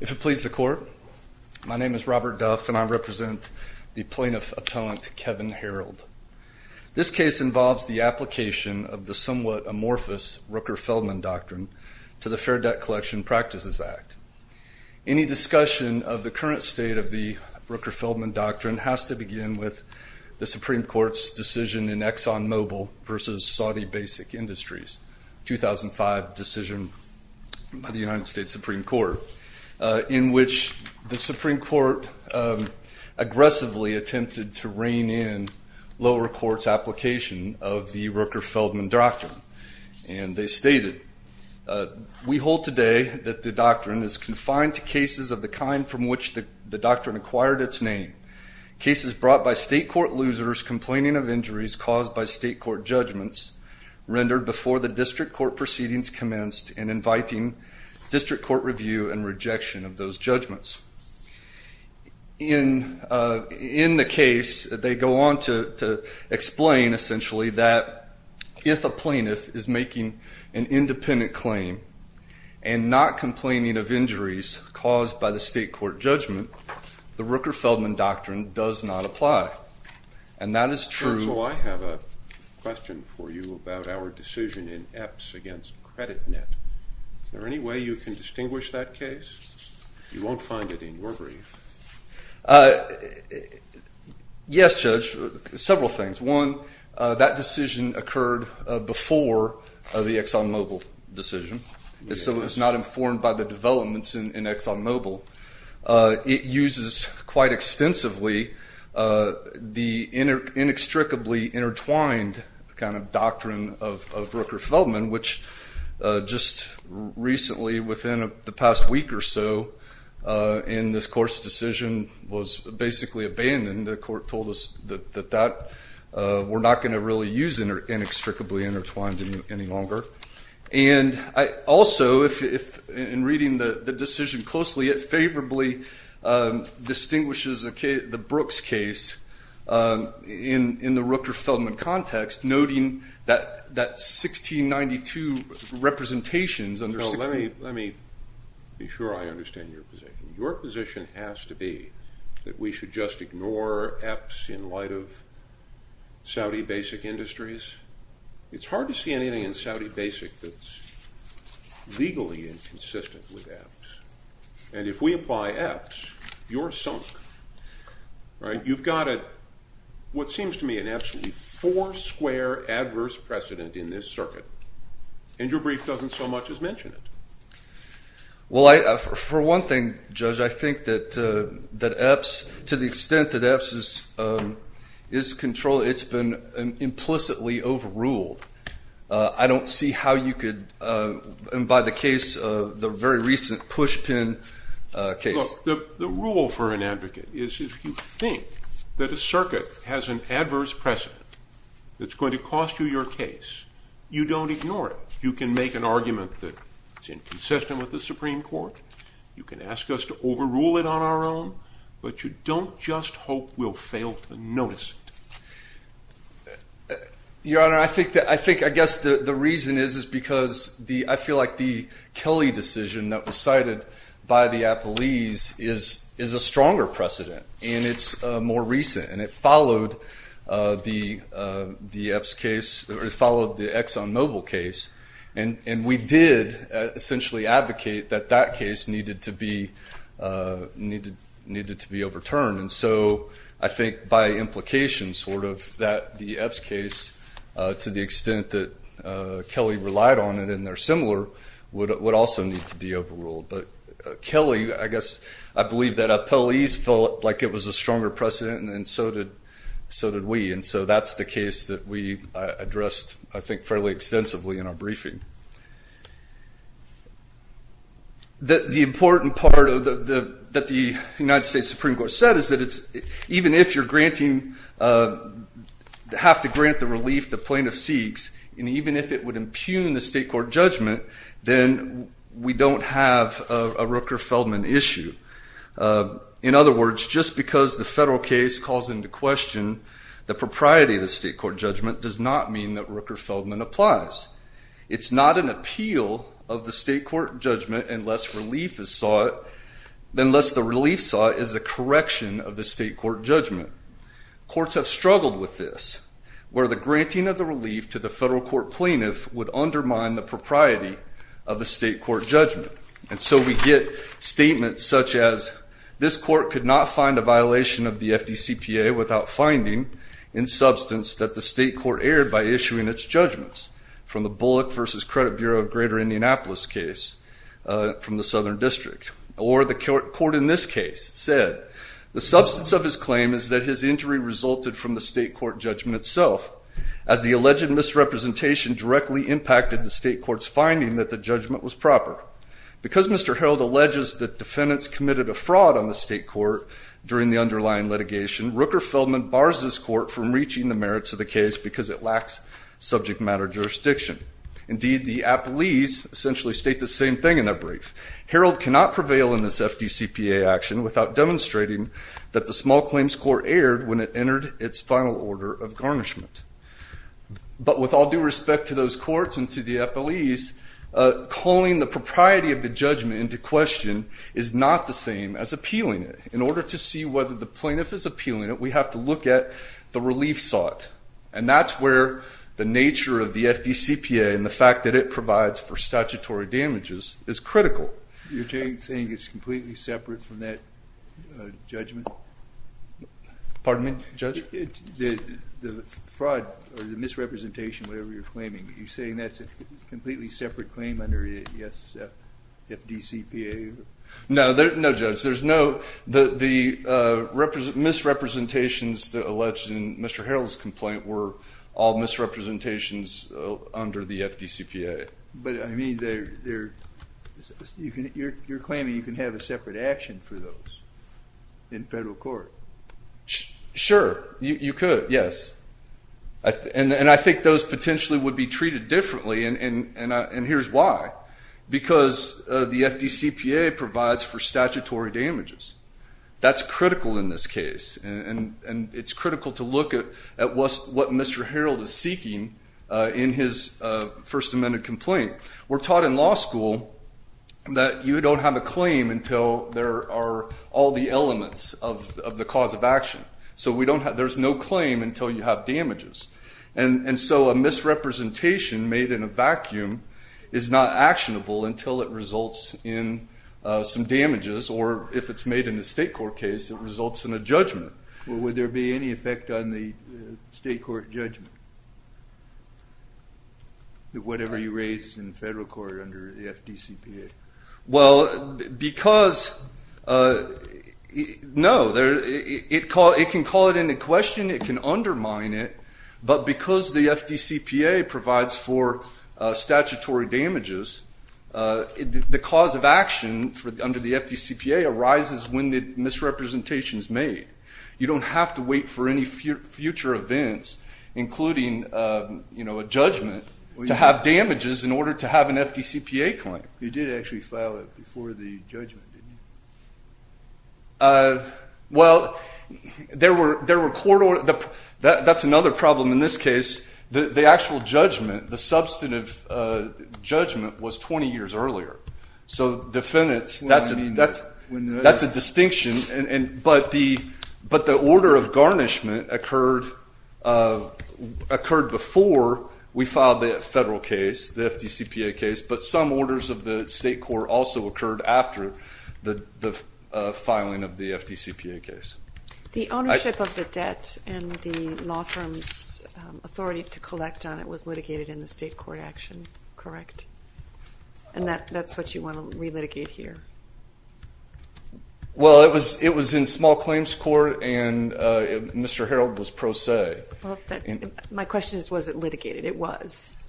If it pleases the court, my name is Robert Duff, and I represent the plaintiff appellant Kevin Harold. This case involves the application of the somewhat amorphous Rooker-Feldman Doctrine to the Fair Debt Collection Practices Act. Any discussion of the current state of the Rooker-Feldman Doctrine has to begin with the Supreme Court's decision in ExxonMobil versus Saudi Basic Industries, 2005 decision by the United States Supreme Court, in which the Supreme Court aggressively attempted to rein in lower court's application of the Rooker-Feldman Doctrine. And they stated, we hold today that the doctrine is confined to cases of the kind from which the doctrine acquired its name. Cases brought by state court losers complaining of injuries caused by state court judgments rendered before the district court proceedings commenced and inviting district court review and rejection of those judgments. In the case, they go on to explain, essentially, that if a plaintiff is making an independent claim and not complaining of injuries caused by the state court judgment, the Rooker-Feldman Doctrine does not apply. And that is true. So I have a question for you about our decision in Epps against CreditNet. Is there any way you can distinguish that case? You won't find it in your brief. Yes, Judge, several things. One, that decision occurred before the ExxonMobil decision. So it was not informed by the developments in ExxonMobil. It uses quite extensively the inextricably intertwined kind of doctrine of Rooker-Feldman, which just recently, within the past week or so, in this court's decision, was basically abandoned. The court told us that we're not going to really use inextricably intertwined any longer. And also, in reading the decision closely, it favorably distinguishes the Brooks case in the Rooker-Feldman context, noting that 1692 representations under 1692. Let me be sure I understand your position. Your position has to be that we should just ignore Epps in light of Saudi basic industries. It's hard to see anything in Saudi basic that's legally inconsistent with Epps. And if we apply Epps, you're sunk. You've got what seems to me an absolutely four-square adverse precedent in this circuit. And your brief doesn't so much as mention it. Well, for one thing, Judge, I think that Epps, to the extent that Epps is controlled, it's been implicitly overruled. I don't see how you could, and by the case the very recent pushpin case. The rule for an advocate is if you think that a circuit has an adverse precedent that's going to cost you your case, you don't ignore it. You can make an argument that it's inconsistent with the Supreme Court. You can ask us to overrule it on our own. But you don't just hope we'll fail to notice it. Your Honor, I think I guess the reason is because I feel like the Kelly decision that was cited by the appellees is a stronger precedent. And it's more recent. And it followed the Epps case, or it followed the ExxonMobil case. And we did essentially advocate that that case needed to be overturned. And so I think by implication that the Epps case, to the extent that Kelly relied on it, and they're similar, would also need to be overruled. But Kelly, I guess I believe that appellees felt like it was a stronger precedent, and so did we. And so that's the case that we addressed, I think, fairly extensively in our briefing. The important part that the United States Supreme Court said is that even if you have to grant the relief that plaintiff seeks, and even if it would impugn the state court judgment, then we don't have a Rooker-Feldman issue. In other words, just because the federal case calls into question the propriety of the state court judgment does not mean that Rooker-Feldman applies. It's not an appeal of the state court judgment unless the relief sought is the correction of the state court judgment. Courts have struggled with this, where the granting of the relief to the federal court plaintiff would undermine the propriety of the state court judgment. And so we get statements such as, this court could not find a violation of the FDCPA without finding, in substance, that the state court erred by issuing its judgments, from the Bullock versus Credit Bureau of Greater Indianapolis case from the Southern District. Or the court in this case said, the substance of his claim is that his injury resulted from the state court judgment itself, as the alleged misrepresentation directly impacted the state court's finding that the judgment was proper. Because Mr. Herold alleges that defendants committed a fraud on the state court during the underlying litigation, Rooker-Feldman bars this court from reaching the merits of the case because it lacks subject matter jurisdiction. Indeed, the appelees essentially state the same thing in their brief. Herold cannot prevail in this FDCPA action without demonstrating that the small claims court erred when it entered its final order of garnishment. But with all due respect to those courts and to the appelees, calling the propriety of the judgment into question is not the same as appealing it. In order to see whether the plaintiff is appealing it, we have to look at the relief sought. And that's where the nature of the FDCPA and the fact that it provides for statutory damages is critical. You're saying it's completely separate from that judgment? Pardon me, Judge? The fraud or the misrepresentation, whatever you're claiming, are you saying that's a completely separate claim under FDCPA? No, Judge. There's no. The misrepresentations that are alleged in Mr. Herold's complaint were all misrepresentations under the FDCPA. But I mean, you're claiming you can have a separate action for those in federal court. Sure. You could, yes. And I think those potentially would be treated differently. And here's why. Because the FDCPA provides for statutory damages. That's critical in this case. And it's critical to look at what Mr. Herold is seeking in his First Amendment complaint. We're taught in law school that you don't have a claim until there are all the elements of the cause of action. So there's no claim until you have damages. And so a misrepresentation made in a vacuum is not actionable until it results in some damages. Or if it's made in a state court case, it results in a judgment. Well, would there be any effect on the state court judgment, whatever you raised in federal court under the FDCPA? Well, because, no. It can call it into question. It can undermine it. But because the FDCPA provides for statutory damages, the cause of action under the FDCPA arises when the misrepresentation is made. You don't have to wait for any future events, including a judgment, to have damages in order to have an FDCPA claim. You did actually file it before the judgment, didn't you? Well, there were court orders. That's another problem in this case. The actual judgment, the substantive judgment, was 20 years earlier. So defendants, that's a distinction. But the order of garnishment occurred before we filed the federal case, the FDCPA case. But some orders of the state court also occurred after the filing of the FDCPA case. The ownership of the debt and the law firm's authority to collect on it was litigated in the state court action, correct? And that's what you want to relitigate here? Well, it was in small claims court. And Mr. Harreld was pro se. My question is, was it litigated? It was.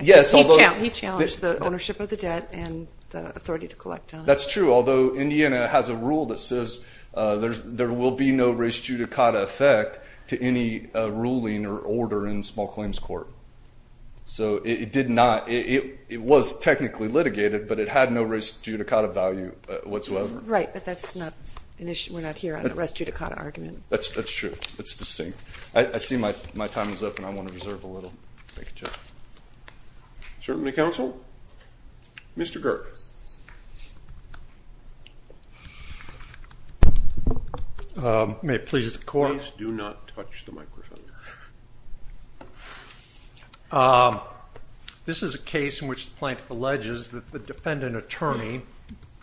Yes, although he challenged the ownership of the debt and the authority to collect on it. That's true, although Indiana has a rule that says there will be no res judicata effect to any ruling or order in small claims court. So it did not. It was technically litigated, but it had no res judicata value whatsoever. Right, but that's not an issue. We're not here on a res judicata argument. That's true. It's distinct. I see my time is up, and I want to reserve a little. Certainty counsel? Mr. Girt. May it please the court. Please do not touch the microphone. Thank you. This is a case in which the plaintiff alleges that the defendant attorney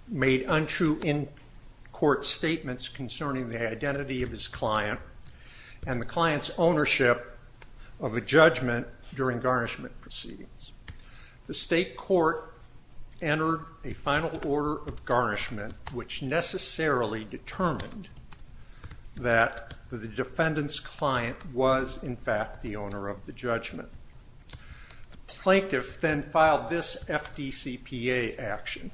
made untrue in-court statements concerning the identity of his client and the client's ownership of a judgment during garnishment proceedings. The state court entered a final order of garnishment, which necessarily determined that the defendant's client was, in fact, the owner of the judgment. The plaintiff then filed this FDCPA action.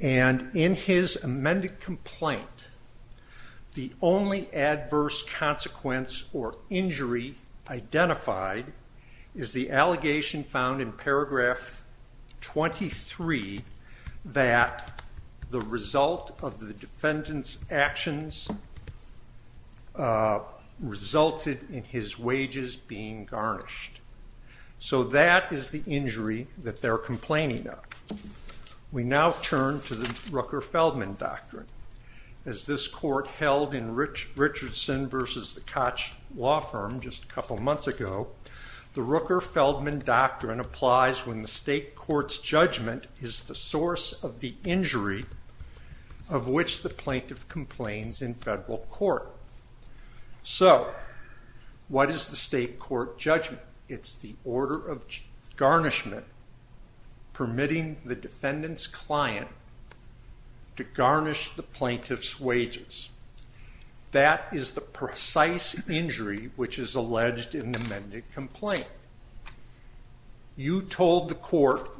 And in his amended complaint, the only adverse consequence or injury identified is the allegation found in paragraph 23 that the result of the defendant's actions resulted in his wages being garnished. So that is the injury that they're complaining of. We now turn to the Rooker-Feldman Doctrine. As this court held in Richardson versus the Koch Law Firm just a couple months ago, the Rooker-Feldman Doctrine applies when the state court's judgment is the source of the injury of which the plaintiff complains in federal court. So what is the state court judgment? It's the order of garnishment permitting the defendant's client to garnish the plaintiff's wages. That is the precise injury which is alleged in the amended complaint. You told the court,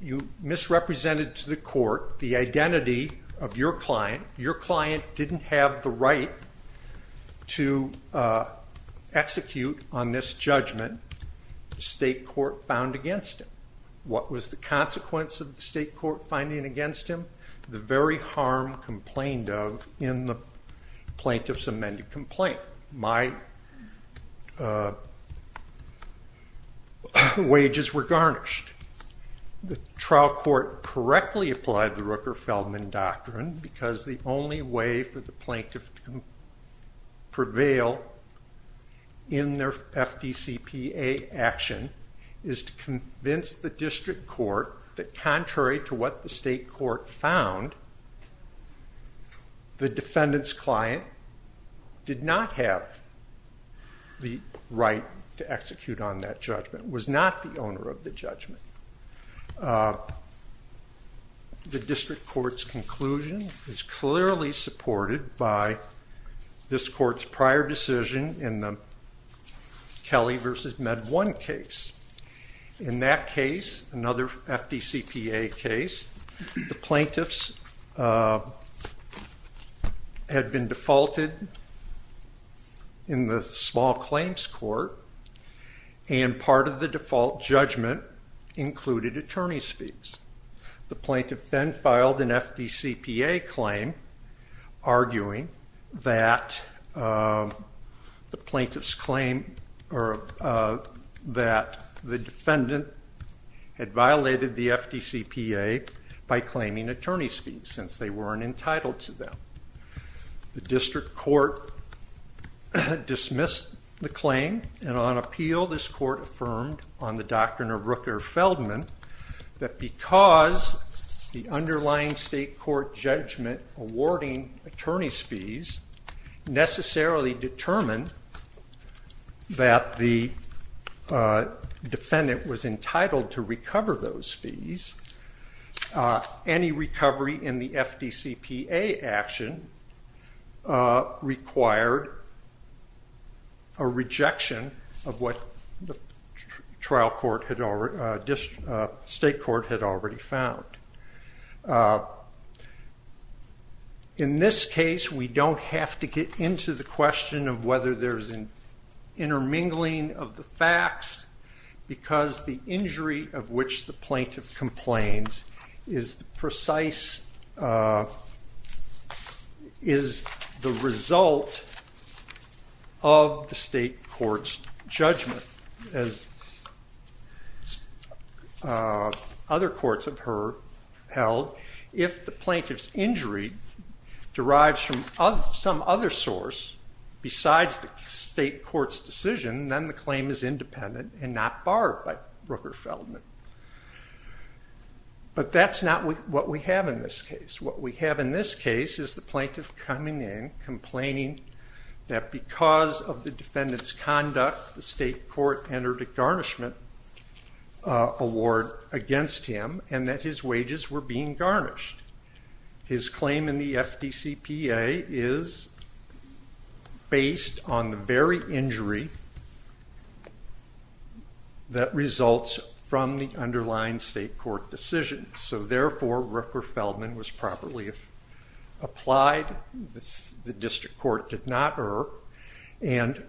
you misrepresented to the court the identity of your client. Your client didn't have the right to execute on this judgment. The state court found against him. What was the consequence of the state court finding against him? The very harm complained of in the plaintiff's amended complaint. My wages were garnished. The trial court correctly applied the Rooker-Feldman Doctrine because the only way for the plaintiff to prevail in their FDCPA action is to convince the district court that contrary to what the state court found, the defendant's client did not have the right to execute on that judgment, was not the owner of the judgment. The district court's conclusion is clearly supported by this court's prior decision in the Kelly versus Med One case. In that case, another FDCPA case, the plaintiffs had been defaulted in the small claims court, and part of the default judgment included attorney's fees. The plaintiff then filed an FDCPA claim arguing that the defendant had violated the FDCPA by claiming attorney's fees since they weren't entitled to them. The district court dismissed the claim, and on appeal this court affirmed on the doctrine of Rooker-Feldman that because the underlying state court judgment awarding attorney's fees necessarily determined that the defendant was entitled to recover those fees, any recovery in the FDCPA action required a rejection of what the state court had already found. In this case, we don't have to get into the question of whether there's an intermingling of the facts, because the injury of which the plaintiff complains is the result of the state court's as other courts of her held. If the plaintiff's injury derives from some other source besides the state court's decision, then the claim is independent and not barred by Rooker-Feldman. But that's not what we have in this case. What we have in this case is the plaintiff coming in, complaining that because of the defendant's conduct, the state court entered a garnishment award against him, and that his wages were being garnished. His claim in the FDCPA is based on the very injury that results from the underlying state court decision. So therefore, Rooker-Feldman was properly applied. The district court did not err. And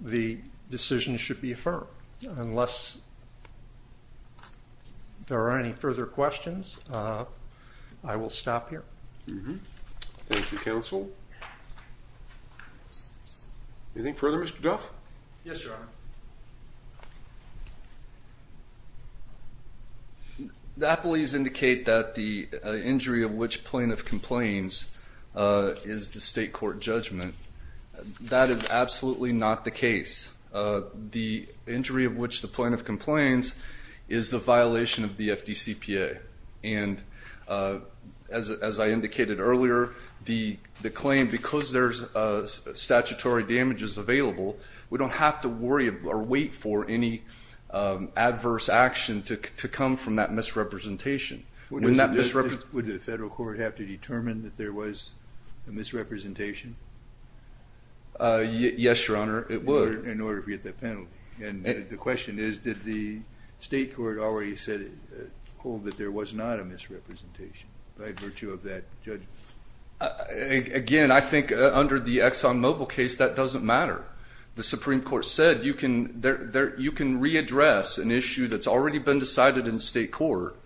the decision should be affirmed. Unless there are any further questions, I will stop here. Thank you, counsel. Anything further, Mr. Duff? Yes, Your Honor. The appellees indicate that the injury of which plaintiff complains is the state court judgment. That is absolutely not the case. The injury of which the plaintiff complains is the violation of the FDCPA. And as I indicated earlier, the claim, because there's statutory damages available, we don't have to worry or wait for any adverse action to come from that misrepresentation. Would the federal court have to determine that there was a misrepresentation? Yes, Your Honor, it would. In order to get that penalty. And the question is, did the state court already hold that there was not a misrepresentation by virtue of that judgment? Again, I think under the ExxonMobil case, that doesn't matter. The Supreme Court said you can readdress an issue that's already been decided in state court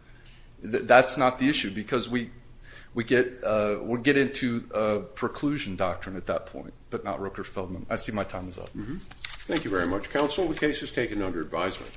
that's not the issue. Because we'll get into a preclusion doctrine at that point, but not Rooker-Feldman. I see my time is up. Thank you very much, counsel. The case is taken under advisement.